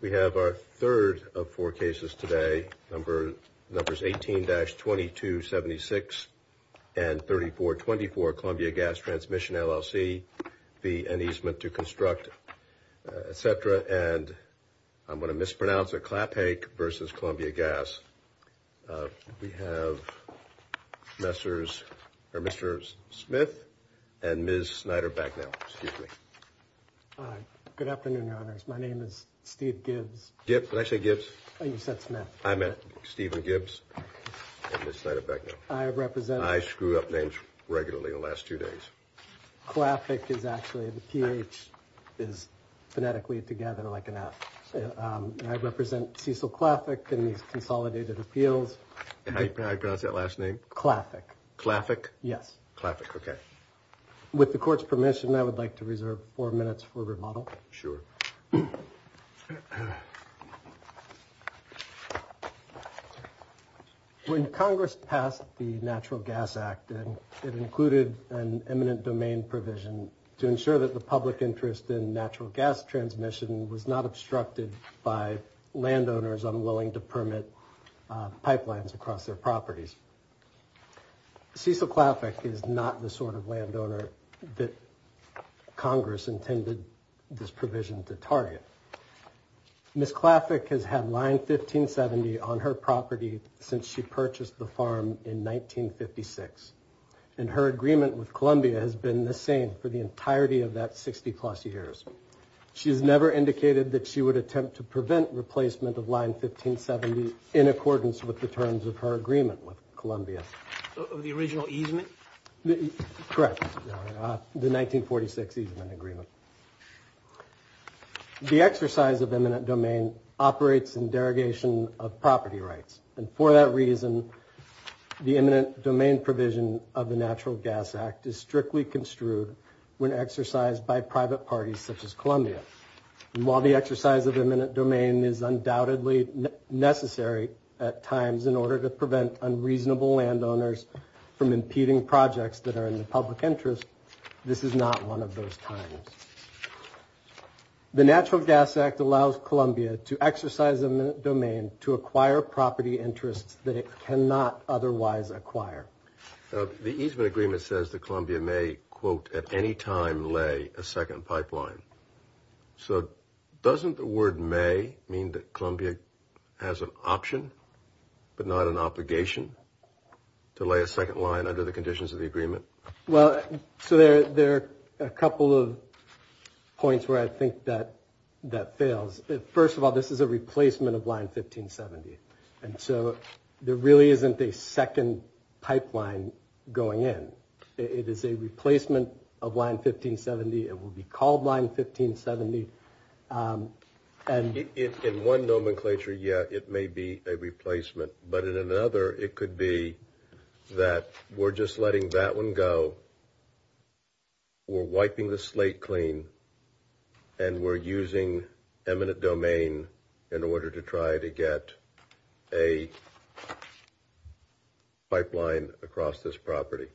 We have our third of four cases today, numbers 18-2276 and 3424 Columbia Gas Transmission LLC v. An Easementto Construct, etc. And I'm going to mispronounce it, Claphaic v. Columbia Gas. We have Messrs. Mr. Smith and Ms. Snyder-Bagnall. Good afternoon, Your Honors. My name is Steve Gibbs. Did I say Gibbs? Oh, you said Smith. I meant Stephen Gibbs and Ms. Snyder-Bagnall. I represent... I screw up names regularly the last two days. Claphaic is actually, the PH is phonetically together like an F. I represent Cecil Claphaic in these consolidated appeals. Can I pronounce that last name? Claphaic. Claphaic? Yes. Claphaic, okay. With the Court's permission, I would like to reserve four minutes for remodel. Sure. When Congress passed the Natural Gas Act, it included an eminent domain provision to ensure that the public interest in natural gas transmission was not obstructed by landowners unwilling to permit pipelines across their properties. Cecil Claphaic is not the sort of landowner that Congress intended this provision to target. Ms. Claphaic has had Line 1570 on her property since she purchased the farm in 1956, and her agreement with Columbia has been the same for the entirety of that 60-plus years. She has never indicated that she would attempt to prevent replacement of Line 1570 in accordance with the terms of her agreement with Columbia. The original easement? Correct. The 1946 easement agreement. The exercise of eminent domain operates in derogation of property rights, and for that reason, the eminent domain provision of the Natural Gas Act is strictly construed when exercised by private parties such as Columbia. While the exercise of eminent domain is undoubtedly necessary at times in order to prevent unreasonable landowners from impeding projects that are in the public interest, this is not one of those times. The Natural Gas Act allows Columbia to exercise eminent domain to acquire property interests that it cannot otherwise acquire. The easement agreement says that Columbia may, quote, at any time lay a second pipeline. So doesn't the word may mean that Columbia has an option but not an obligation to lay a second line under the conditions of the agreement? Well, so there are a couple of points where I think that that fails. First of all, this is a replacement of Line 1570, and so there really isn't a second pipeline going in. It is a replacement of Line 1570. It will be called Line 1570. In one nomenclature, yeah, it may be a replacement, but in another, it could be that we're just letting that one go. We're wiping the slate clean, and we're using eminent domain in order to try to get a pipeline across this property.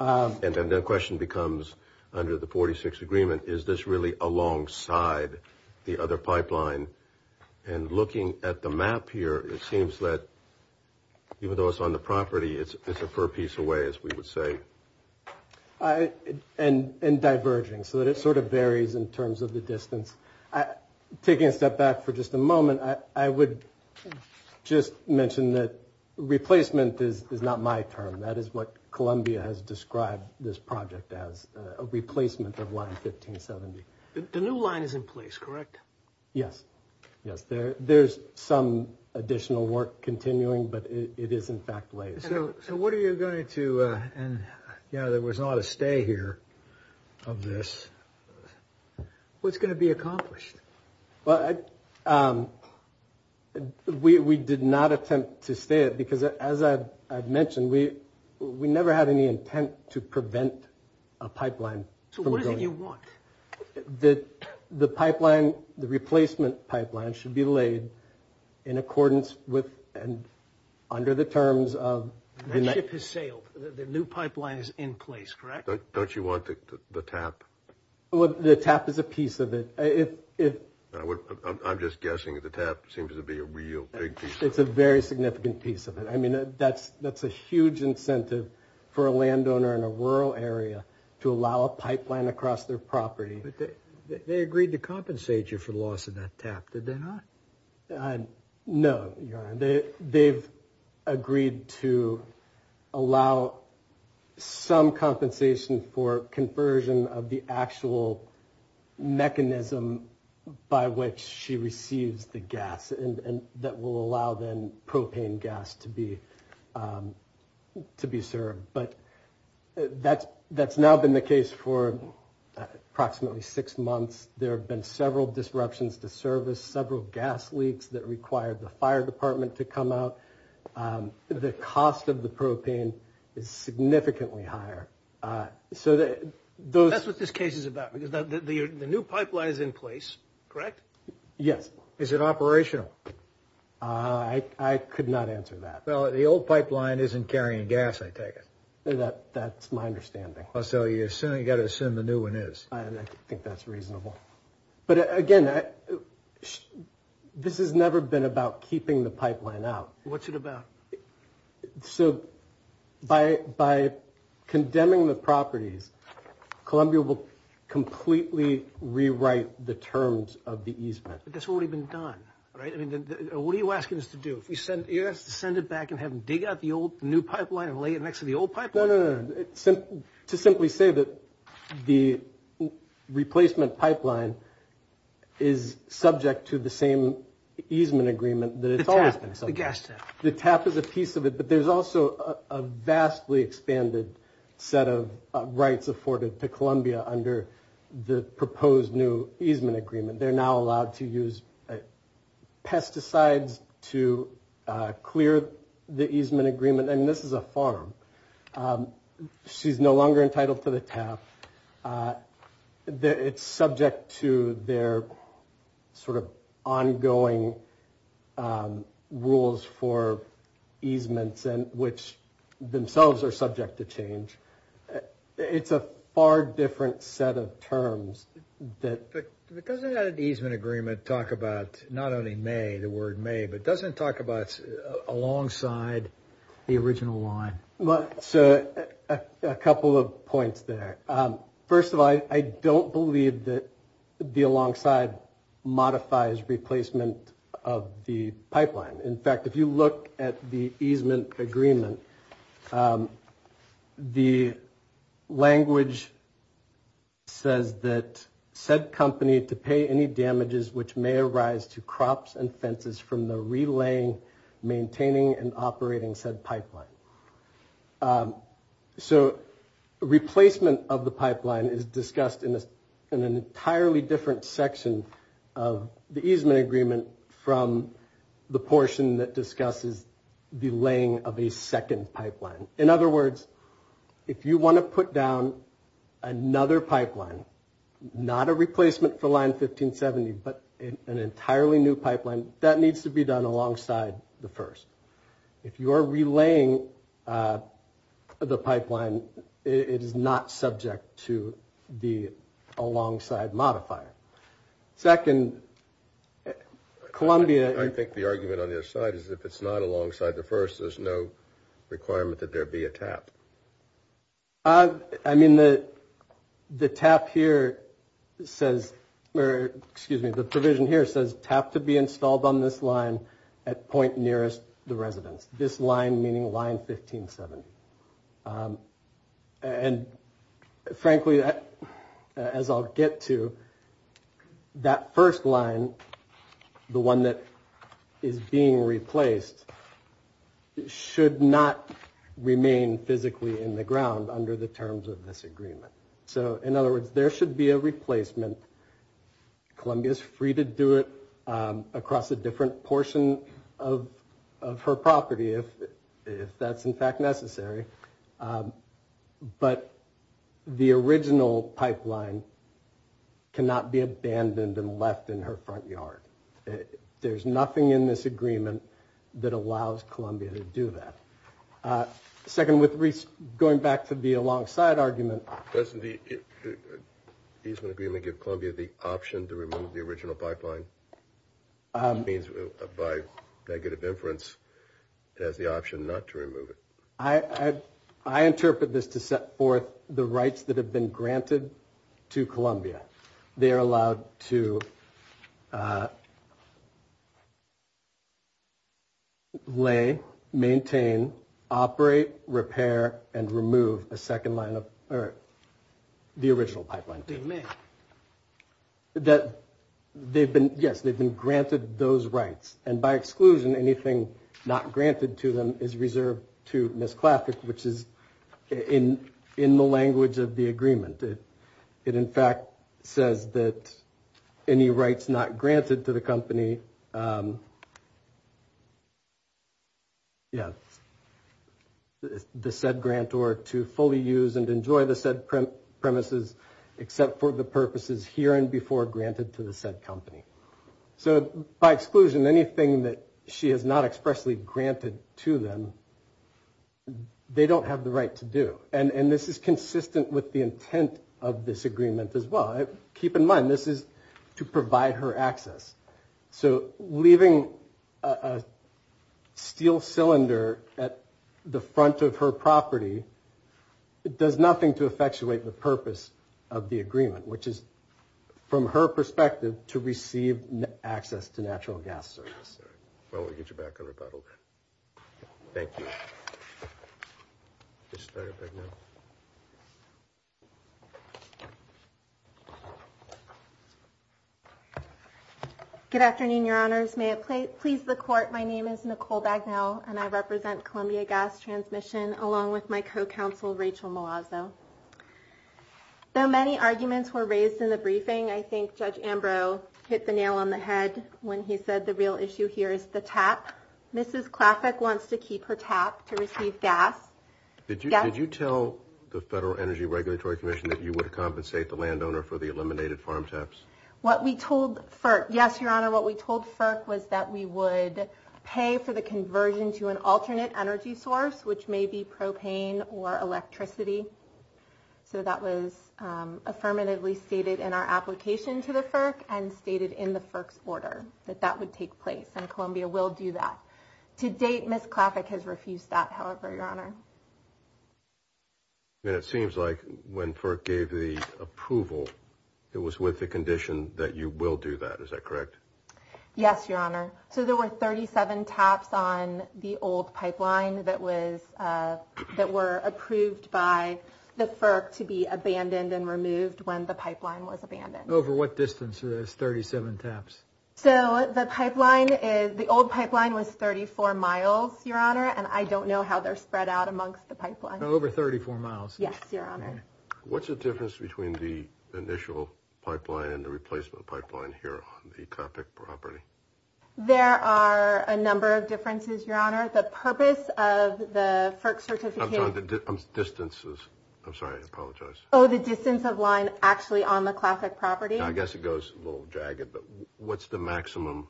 And then the question becomes, under the 46th agreement, is this really alongside the other pipeline? And looking at the map here, it seems that even though it's on the property, it's a fair piece away, as we would say. And diverging, so that it sort of varies in terms of the distance. Taking a step back for just a moment, I would just mention that replacement is not my term. That is what Columbia has described this project as, a replacement of Line 1570. The new line is in place, correct? Yes, yes. There's some additional work continuing, but it is, in fact, laid. So what are you going to – and, you know, there was not a stay here of this. What's going to be accomplished? Well, we did not attempt to stay it because, as I've mentioned, we never had any intent to prevent a pipeline from going. So what is it you want? That the pipeline, the replacement pipeline, should be laid in accordance with and under the terms of – That ship has sailed. The new pipeline is in place, correct? Don't you want the TAP? Well, the TAP is a piece of it. I'm just guessing that the TAP seems to be a real big piece of it. It's a very significant piece of it. I mean, that's a huge incentive for a landowner in a rural area to allow a pipeline across their property. But they agreed to compensate you for loss of that TAP, did they not? No, Your Honor. They've agreed to allow some compensation for conversion of the actual mechanism by which she receives the gas and that will allow then propane gas to be served. But that's now been the case for approximately six months. There have been several disruptions to service, several gas leaks that required the fire department to come out. The cost of the propane is significantly higher. That's what this case is about. The new pipeline is in place, correct? Yes. Is it operational? I could not answer that. Well, the old pipeline isn't carrying gas, I take it. That's my understanding. So you've got to assume the new one is. I think that's reasonable. But again, this has never been about keeping the pipeline out. What's it about? So by condemning the properties, Columbia will completely rewrite the terms of the easement. But that's already been done, right? I mean, what are you asking us to do? You're asking us to send it back and have them dig out the old new pipeline and lay it next to the old pipeline? No, no, no. To simply say that the replacement pipeline is subject to the same easement agreement that it's always been subject to. The TAP is a piece of it. But there's also a vastly expanded set of rights afforded to Columbia under the proposed new easement agreement. They're now allowed to use pesticides to clear the easement agreement. And this is a farm. She's no longer entitled to the TAP. It's subject to their sort of ongoing rules for easements, which themselves are subject to change. It's a far different set of terms. But doesn't that easement agreement talk about not only may, the word may, but doesn't talk about alongside the original line? So a couple of points there. First of all, I don't believe that the alongside modifies replacement of the pipeline. In fact, if you look at the easement agreement, the language says that said company to pay any damages which may arise to crops and fences from the relaying, maintaining and operating said pipeline. So replacement of the pipeline is discussed in an entirely different section of the easement agreement from the portion that discusses the laying of a second pipeline. In other words, if you want to put down another pipeline, not a replacement for line 1570, but an entirely new pipeline, that needs to be done alongside the first. If you are relaying the pipeline, it is not subject to the alongside modifier. Second, Columbia. I think the argument on the other side is if it's not alongside the first, there's no requirement that there be a TAP. I mean, the TAP here says, or excuse me, the provision here says TAP to be installed on this line at point nearest the residence. This line meaning line 1570. And frankly, as I'll get to that first line, the one that is being replaced, should not remain physically in the ground under the terms of this agreement. So in other words, there should be a replacement. Columbia is free to do it across a different portion of her property if that's in fact necessary. But the original pipeline cannot be abandoned and left in her front yard. There's nothing in this agreement that allows Columbia to do that. Second, going back to the alongside argument. Doesn't the easement agreement give Columbia the option to remove the original pipeline? It means by negative inference, it has the option not to remove it. I interpret this to set forth the rights that have been granted to Columbia. They are allowed to lay, maintain, operate, repair and remove a second line of the original pipeline. That they've been yes, they've been granted those rights. And by exclusion, anything not granted to them is reserved to misclassic, which is in in the language of the agreement. It in fact says that any rights not granted to the company. Yes, the said grant or to fully use and enjoy the said premises, except for the purposes here and before granted to the said company. So by exclusion, anything that she has not expressly granted to them, they don't have the right to do. And this is consistent with the intent of this agreement as well. Keep in mind, this is to provide her access. So leaving a steel cylinder at the front of her property, it does nothing to effectuate the purpose of the agreement, which is from her perspective to receive access to natural gas service. Well, we get you back on rebuttal. Thank you. Good afternoon, Your Honors. May it please the court. My name is Nicole Bagnell and I represent Columbia Gas Transmission, along with my co-counsel, Rachel Malazzo. Though many arguments were raised in the briefing, I think Judge Ambrose hit the nail on the head when he said the real issue here is the tap. Mrs. Klaffick wants to keep her tap to receive gas. Did you tell the Federal Energy Regulatory Commission that you would compensate the landowner for the eliminated farm taps? What we told FERC, yes, Your Honor, what we told FERC was that we would pay for the conversion to an alternate energy source, which may be propane or electricity. So that was affirmatively stated in our application to the FERC and stated in the FERC's order that that would take place. And Columbia will do that. To date, Mrs. Klaffick has refused that, however, Your Honor. It seems like when FERC gave the approval, it was with the condition that you will do that. Is that correct? Yes, Your Honor. So there were 37 taps on the old pipeline that were approved by the FERC to be abandoned and removed when the pipeline was abandoned. Over what distance were those 37 taps? So the old pipeline was 34 miles, Your Honor, and I don't know how they're spread out amongst the pipeline. Over 34 miles. Yes, Your Honor. What's the difference between the initial pipeline and the replacement pipeline here on the Klaffick property? There are a number of differences, Your Honor. The purpose of the FERC certificate... I'm sorry, the distances. I'm sorry. I apologize. Oh, the distance of line actually on the Klaffick property. I guess it goes a little jagged, but what's the maximum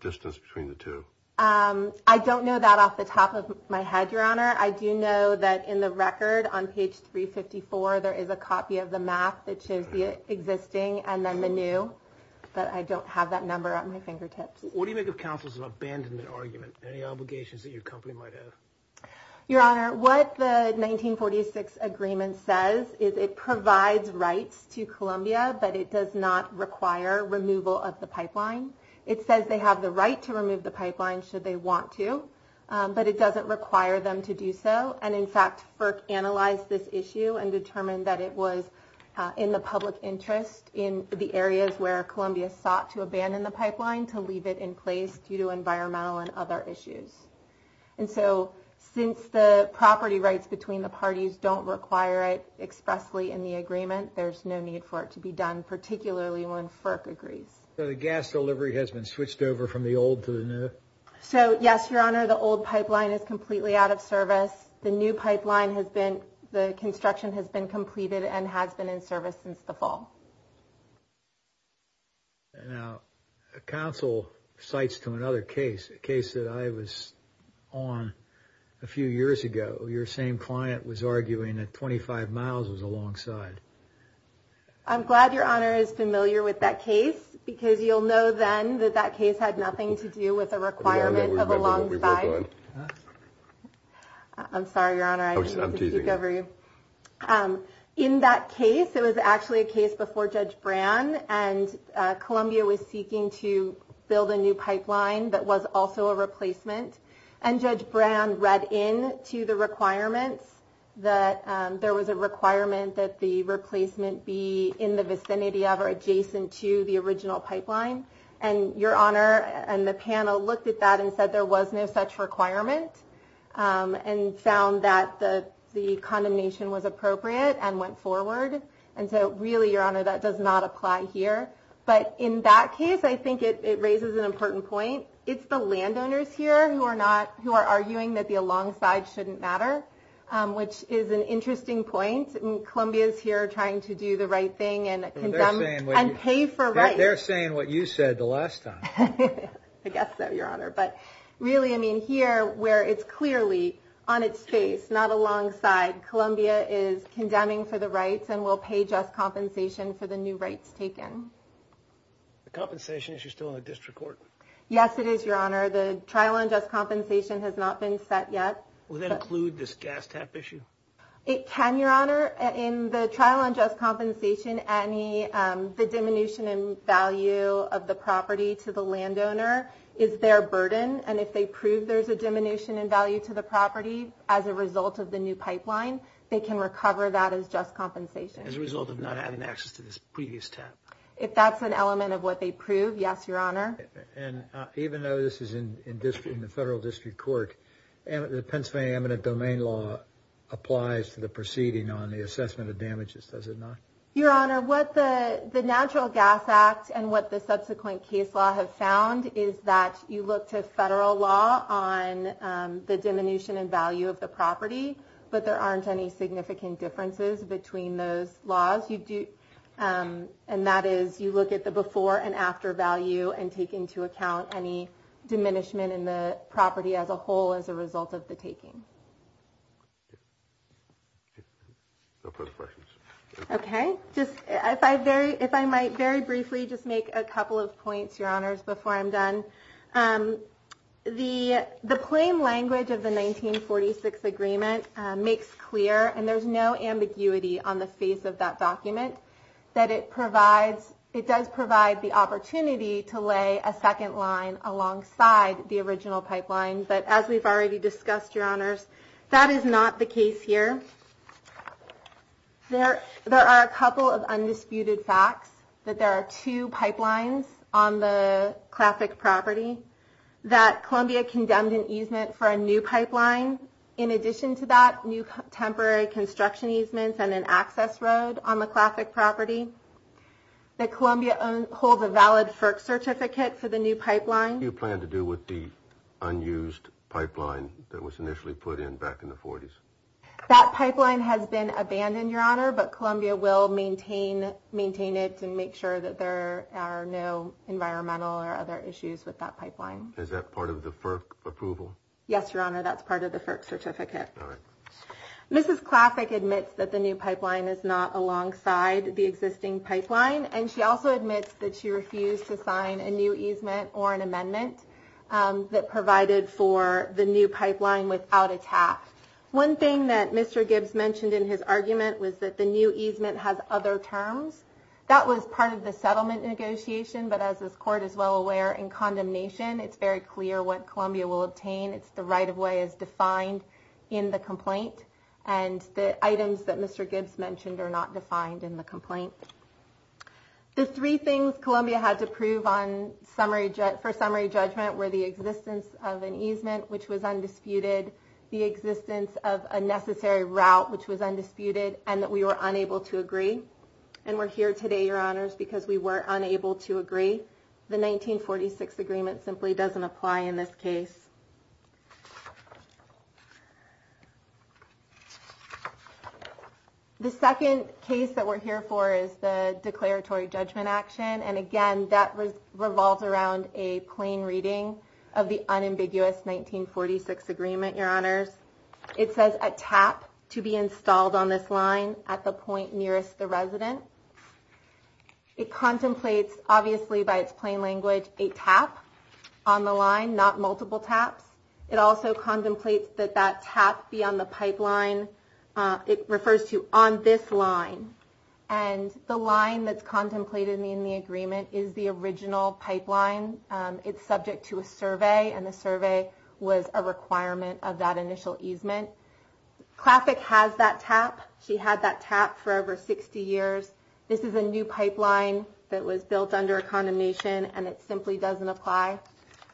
distance between the two? I don't know that off the top of my head, Your Honor. I do know that in the record on page 354, there is a copy of the map that shows the existing and then the new. But I don't have that number at my fingertips. What do you make of counsel's abandonment argument? Any obligations that your company might have? Your Honor, what the 1946 agreement says is it provides rights to Columbia, but it does not require removal of the pipeline. It says they have the right to remove the pipeline should they want to, but it doesn't require them to do so. And in fact, FERC analyzed this issue and determined that it was in the public interest in the areas where Columbia sought to abandon the pipeline to leave it in place due to environmental and other issues. And so since the property rights between the parties don't require it expressly in the agreement, there's no need for it to be done, particularly when FERC agrees. So the gas delivery has been switched over from the old to the new? So, yes, Your Honor, the old pipeline is completely out of service. The new pipeline has been, the construction has been completed and has been in service since the fall. Now, counsel cites to another case, a case that I was on a few years ago. Your same client was arguing that 25 miles was a long side. I'm glad Your Honor is familiar with that case because you'll know then that that case had nothing to do with a requirement of a long side. I'm sorry, Your Honor, I'm teasing every in that case. It was actually a case before Judge Brand and Columbia was seeking to build a new pipeline that was also a replacement. And Judge Brand read in to the requirements that there was a requirement that the replacement be in the vicinity of or adjacent to the original pipeline. And Your Honor and the panel looked at that and said there was no such requirement and found that the condemnation was appropriate and went forward. And so really, Your Honor, that does not apply here. But in that case, I think it raises an important point. It's the landowners here who are not who are arguing that the alongside shouldn't matter, which is an interesting point. Columbia's here trying to do the right thing and condemn and pay for right. They're saying what you said the last time. I guess so, Your Honor. But really, I mean, here where it's clearly on its face, not alongside. Columbia is condemning for the rights and will pay just compensation for the new rights taken. The compensation is still in the district court. Yes, it is, Your Honor. The trial on just compensation has not been set yet. Will that include this gas tap issue? It can, Your Honor. In the trial on just compensation, the diminution in value of the property to the landowner is their burden. And if they prove there's a diminution in value to the property as a result of the new pipeline, they can recover that as just compensation. As a result of not having access to this previous tap? If that's an element of what they prove, yes, Your Honor. And even though this is in the federal district court, the Pennsylvania eminent domain law applies to the proceeding on the assessment of damages, does it not? Your Honor, what the Natural Gas Act and what the subsequent case law have found is that you look to federal law on the diminution in value of the property, but there aren't any significant differences between those laws. And that is, you look at the before and after value and take into account any diminishment in the property as a whole as a result of the taking. Okay. If I might very briefly just make a couple of points, Your Honors, before I'm done. The plain language of the 1946 agreement makes clear, and there's no ambiguity on the face of that document, that it does provide the opportunity to lay a second line alongside the original pipeline. But as we've already discussed, Your Honors, that is not the case here. There are a couple of undisputed facts, that there are two pipelines on the classic property, that Columbia condemned an easement for a new pipeline. In addition to that, new temporary construction easements and an access road on the classic property, that Columbia holds a valid FERC certificate for the new pipeline. What do you plan to do with the unused pipeline that was initially put in back in the 40s? That pipeline has been abandoned, Your Honor, but Columbia will maintain it to make sure that there are no environmental or other issues with that pipeline. Is that part of the FERC approval? Yes, Your Honor, that's part of the FERC certificate. All right. Mrs. Classic admits that the new pipeline is not alongside the existing pipeline, and she also admits that she refused to sign a new easement or an amendment that provided for the new pipeline without a TAP. One thing that Mr. Gibbs mentioned in his argument was that the new easement has other terms. That was part of the settlement negotiation, but as this Court is well aware, in condemnation, it's very clear what Columbia will obtain. It's the right-of-way as defined in the complaint, and the items that Mr. Gibbs mentioned are not defined in the complaint. The three things Columbia had to prove for summary judgment were the existence of an easement, which was undisputed, the existence of a necessary route, which was undisputed, and that we were unable to agree. And we're here today, Your Honors, because we were unable to agree. The 1946 agreement simply doesn't apply in this case. The second case that we're here for is the declaratory judgment action, and again, that revolves around a plain reading of the unambiguous 1946 agreement, Your Honors. It says a TAP to be installed on this line at the point nearest the resident. It contemplates, obviously by its plain language, a TAP on the line, not multiple TAPs. It also contemplates that that TAP be on the pipeline. It refers to on this line, and the line that's contemplated in the agreement is the original pipeline. It's subject to a survey, and the survey was a requirement of that initial easement. Classic has that TAP. She had that TAP for over 60 years. This is a new pipeline that was built under a condemnation, and it simply doesn't apply.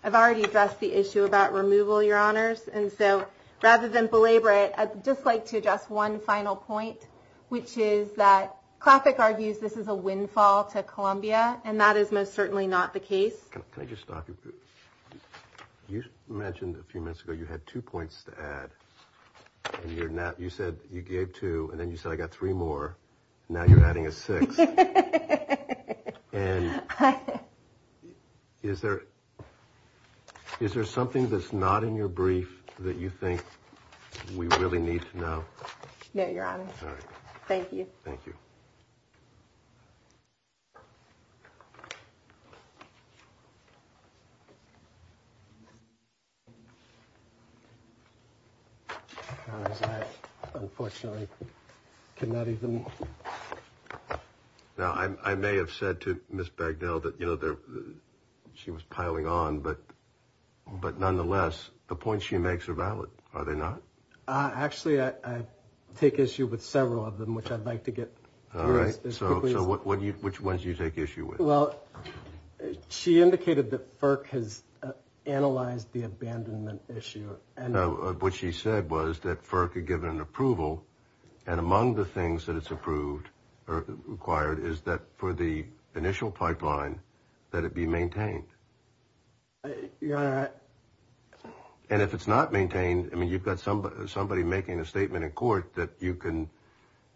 I've already addressed the issue about removal, Your Honors, and so rather than belabor it, I'd just like to address one final point, which is that Classic argues this is a windfall to Columbia, and that is most certainly not the case. Can I just stop you? You mentioned a few minutes ago you had two points to add, and you said you gave two, and then you said I got three more. Now you're adding a sixth. And is there something that's not in your brief that you think we really need to know? No, Your Honor. Thank you. Thank you. Your Honors, I unfortunately cannot even. Now, I may have said to Ms. Bagdell that, you know, she was piling on, but nonetheless the points she makes are valid, are they not? Actually, I take issue with several of them, which I'd like to get to as quickly as possible. So which ones do you take issue with? Well, she indicated that FERC has analyzed the abandonment issue. No, what she said was that FERC had given an approval, and among the things that it's approved or required is that for the initial pipeline that it be maintained. Your Honor. And if it's not maintained, I mean, you've got somebody making a statement in court that you can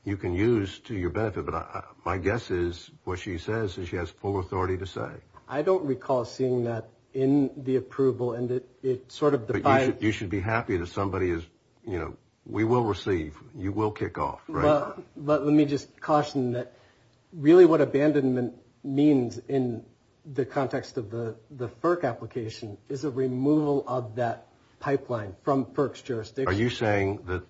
use to your benefit, but my guess is what she says is she has full authority to say. I don't recall seeing that in the approval, and it sort of defies. You should be happy that somebody is, you know, we will receive, you will kick off. But let me just caution that really what abandonment means in the context of the FERC application is a removal of that pipeline from FERC's jurisdiction. Are you saying that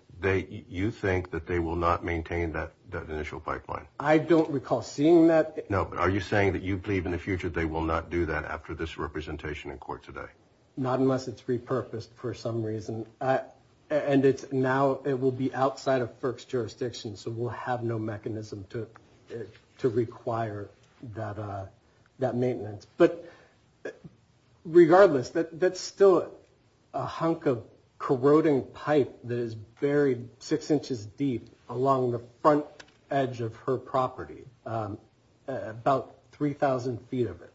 you think that they will not maintain that initial pipeline? I don't recall seeing that. No, but are you saying that you believe in the future they will not do that after this representation in court today? Not unless it's repurposed for some reason. And now it will be outside of FERC's jurisdiction, so we'll have no mechanism to require that maintenance. But regardless, that's still a hunk of corroding pipe that is buried six inches deep along the front edge of her property, about 3,000 feet of it.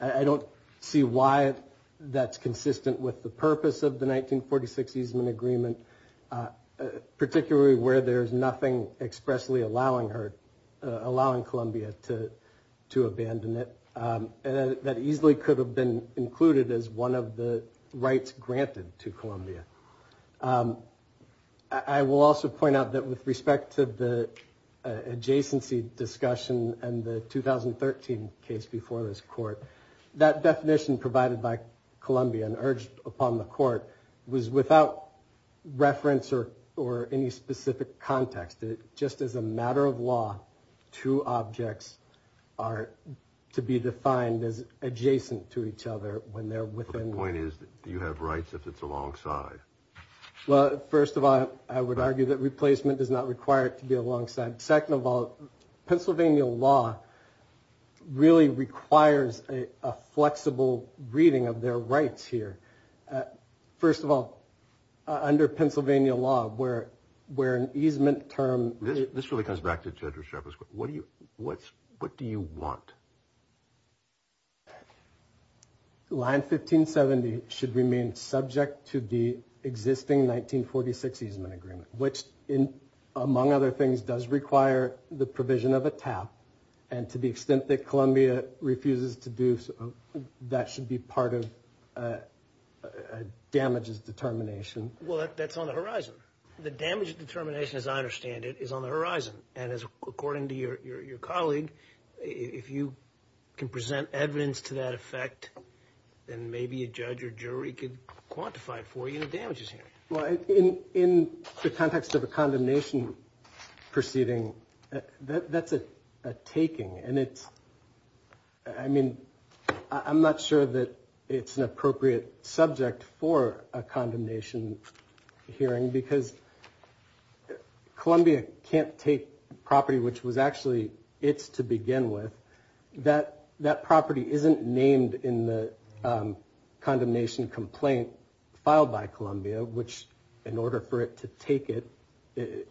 I don't see why that's consistent with the purpose of the 1946 easement agreement, particularly where there's nothing expressly allowing her, allowing Columbia to abandon it. That easily could have been included as one of the rights granted to Columbia. I will also point out that with respect to the adjacency discussion and the 2013 case before this court, that definition provided by Columbia and urged upon the court was without reference or any specific context. Just as a matter of law, two objects are to be defined as adjacent to each other when they're within. The point is, do you have rights if it's alongside? Well, first of all, I would argue that replacement does not require it to be alongside. Second of all, Pennsylvania law really requires a flexible reading of their rights here. First of all, under Pennsylvania law, where an easement term— This really comes back to Judge Resharf's question. What do you want? Line 1570 should remain subject to the existing 1946 easement agreement, which, among other things, does require the provision of a TAP. And to the extent that Columbia refuses to do so, that should be part of damages determination. Well, that's on the horizon. The damage determination, as I understand it, is on the horizon. And according to your colleague, if you can present evidence to that effect, then maybe a judge or jury could quantify for you the damages here. Well, in the context of a condemnation proceeding, that's a taking. And it's—I mean, I'm not sure that it's an appropriate subject for a condemnation hearing because Columbia can't take property which was actually its to begin with. That property isn't named in the condemnation complaint filed by Columbia, which, in order for it to take it, it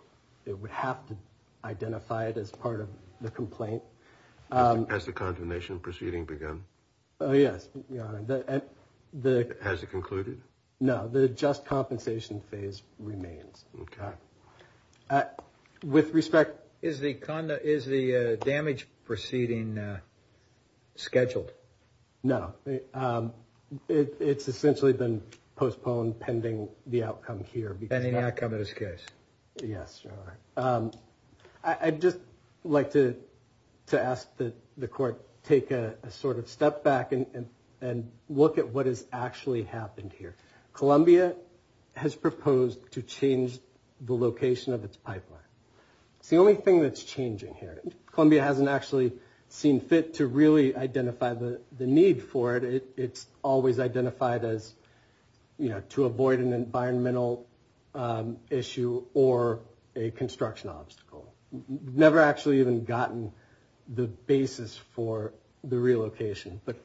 would have to identify it as part of the complaint. Has the condemnation proceeding begun? Oh, yes, Your Honor. Has it concluded? No, the just compensation phase remains. Okay. With respect— Is the damage proceeding scheduled? No. It's essentially been postponed pending the outcome here. Pending the outcome of this case. Yes, Your Honor. I'd just like to ask that the court take a sort of step back and look at what has actually happened here. Columbia has proposed to change the location of its pipeline. It's the only thing that's changing here. Columbia hasn't actually seen fit to really identify the need for it. It's always identified as, you know, to avoid an environmental issue or a construction obstacle. Never actually even gotten the basis for the relocation. But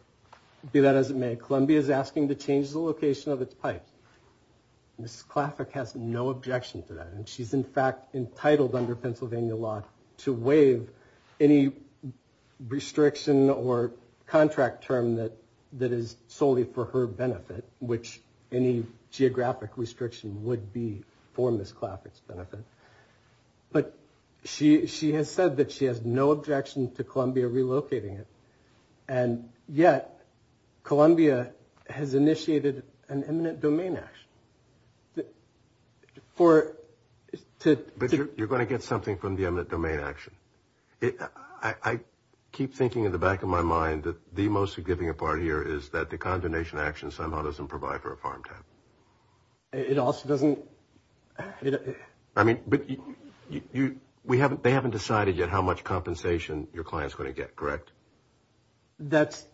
do that as it may. Columbia is asking to change the location of its pipes. Ms. Klaffick has no objection to that, and she's, in fact, entitled under Pennsylvania law to waive any restriction or contract term that is solely for her benefit, which any geographic restriction would be for Ms. Klaffick's benefit. But she has said that she has no objection to Columbia relocating it, and yet Columbia has initiated an eminent domain action. But you're going to get something from the eminent domain action. I keep thinking in the back of my mind that the most significant part here is that the condemnation action somehow doesn't provide for a farm tap. It also doesn't. I mean, but they haven't decided yet how much compensation your client's going to get, correct? That's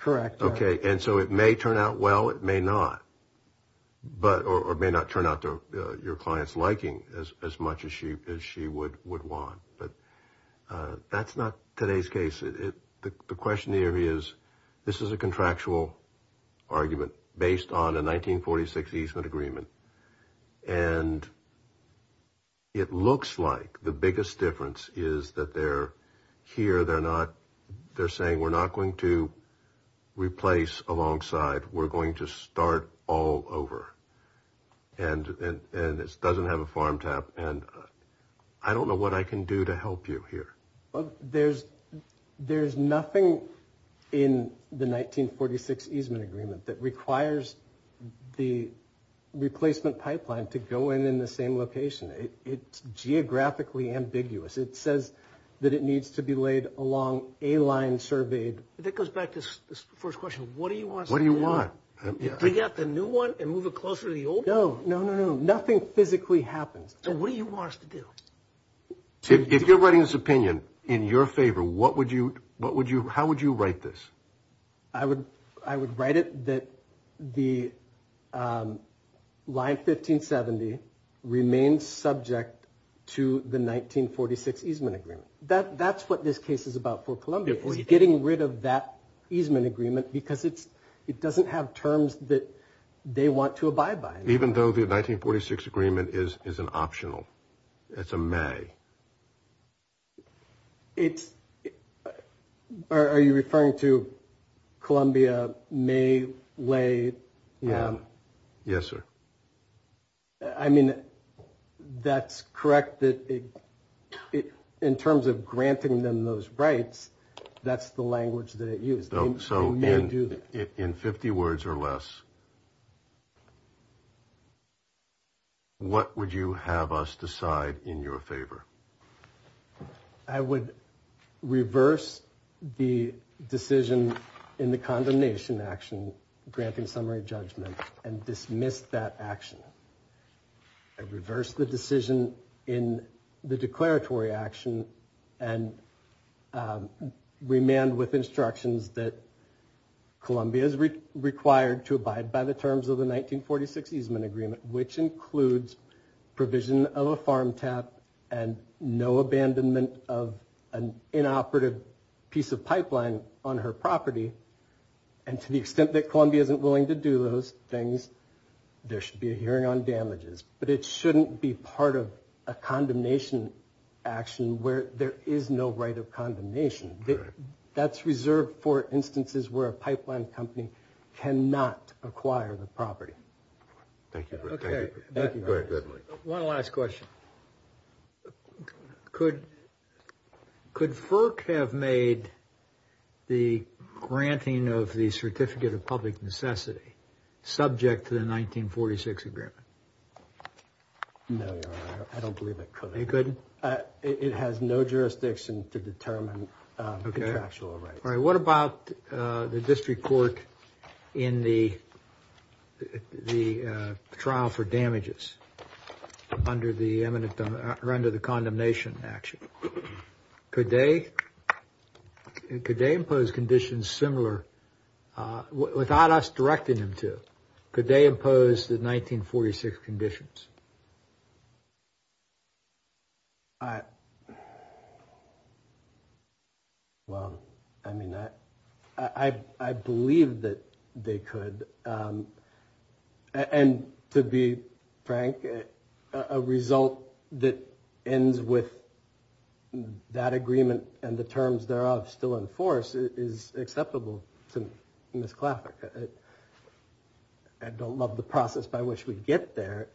correct. Okay, and so it may turn out well, it may not. Or it may not turn out to your client's liking as much as she would want. But that's not today's case. The question here is this is a contractual argument based on a 1946 easement agreement, and it looks like the biggest difference is that they're here, they're saying we're not going to replace alongside. We're going to start all over. And it doesn't have a farm tap, and I don't know what I can do to help you here. There's nothing in the 1946 easement agreement that requires the replacement pipeline to go in in the same location. It's geographically ambiguous. It says that it needs to be laid along a line surveyed. That goes back to this first question. What do you want us to do? What do you want? Do we get the new one and move it closer to the old one? No, no, no, no. Nothing physically happens. So what do you want us to do? If you're writing this opinion in your favor, what would you – how would you write this? I would write it that the line 1570 remains subject to the 1946 easement agreement. That's what this case is about for Columbia, is getting rid of that easement agreement because it doesn't have terms that they want to abide by. Even though the 1946 agreement is an optional? It's a may? Are you referring to Columbia may lay? Yes, sir. I mean, that's correct. In terms of granting them those rights, that's the language that it used. So in 50 words or less, what would you have us decide in your favor? I would reverse the decision in the condemnation action, granting summary judgment, and dismiss that action. I'd reverse the decision in the declaratory action and remand with instructions that Columbia is required to abide by the terms of the 1946 easement agreement, which includes provision of a farm tap and no abandonment of an inoperative piece of pipeline on her property. And to the extent that Columbia isn't willing to do those things, there should be a hearing on damages. But it shouldn't be part of a condemnation action where there is no right of condemnation. That's reserved for instances where a pipeline company cannot acquire the property. Thank you. One last question. Could FERC have made the granting of the certificate of public necessity subject to the 1946 agreement? No, Your Honor, I don't believe it could. It couldn't? It has no jurisdiction to determine contractual rights. All right, what about the district court in the trial for damages under the condemnation action? Could they impose conditions similar without us directing them to? Could they impose the 1946 conditions? Well, I mean, I believe that they could. And to be frank, a result that ends with that agreement and the terms thereof still in force is acceptable to Ms. Claffer. I don't love the process by which we get there.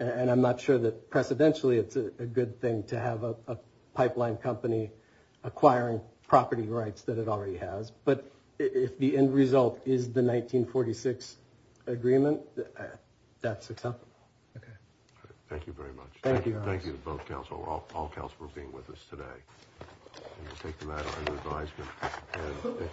And I'm not sure that precedentially it's a good thing to have a pipeline company acquiring property rights that it already has. But if the end result is the 1946 agreement, that's acceptable. Thank you very much. Thank you, Your Honor. Thank you to both counsel, all counsel for being with us today. And we'll take the matter under advisement.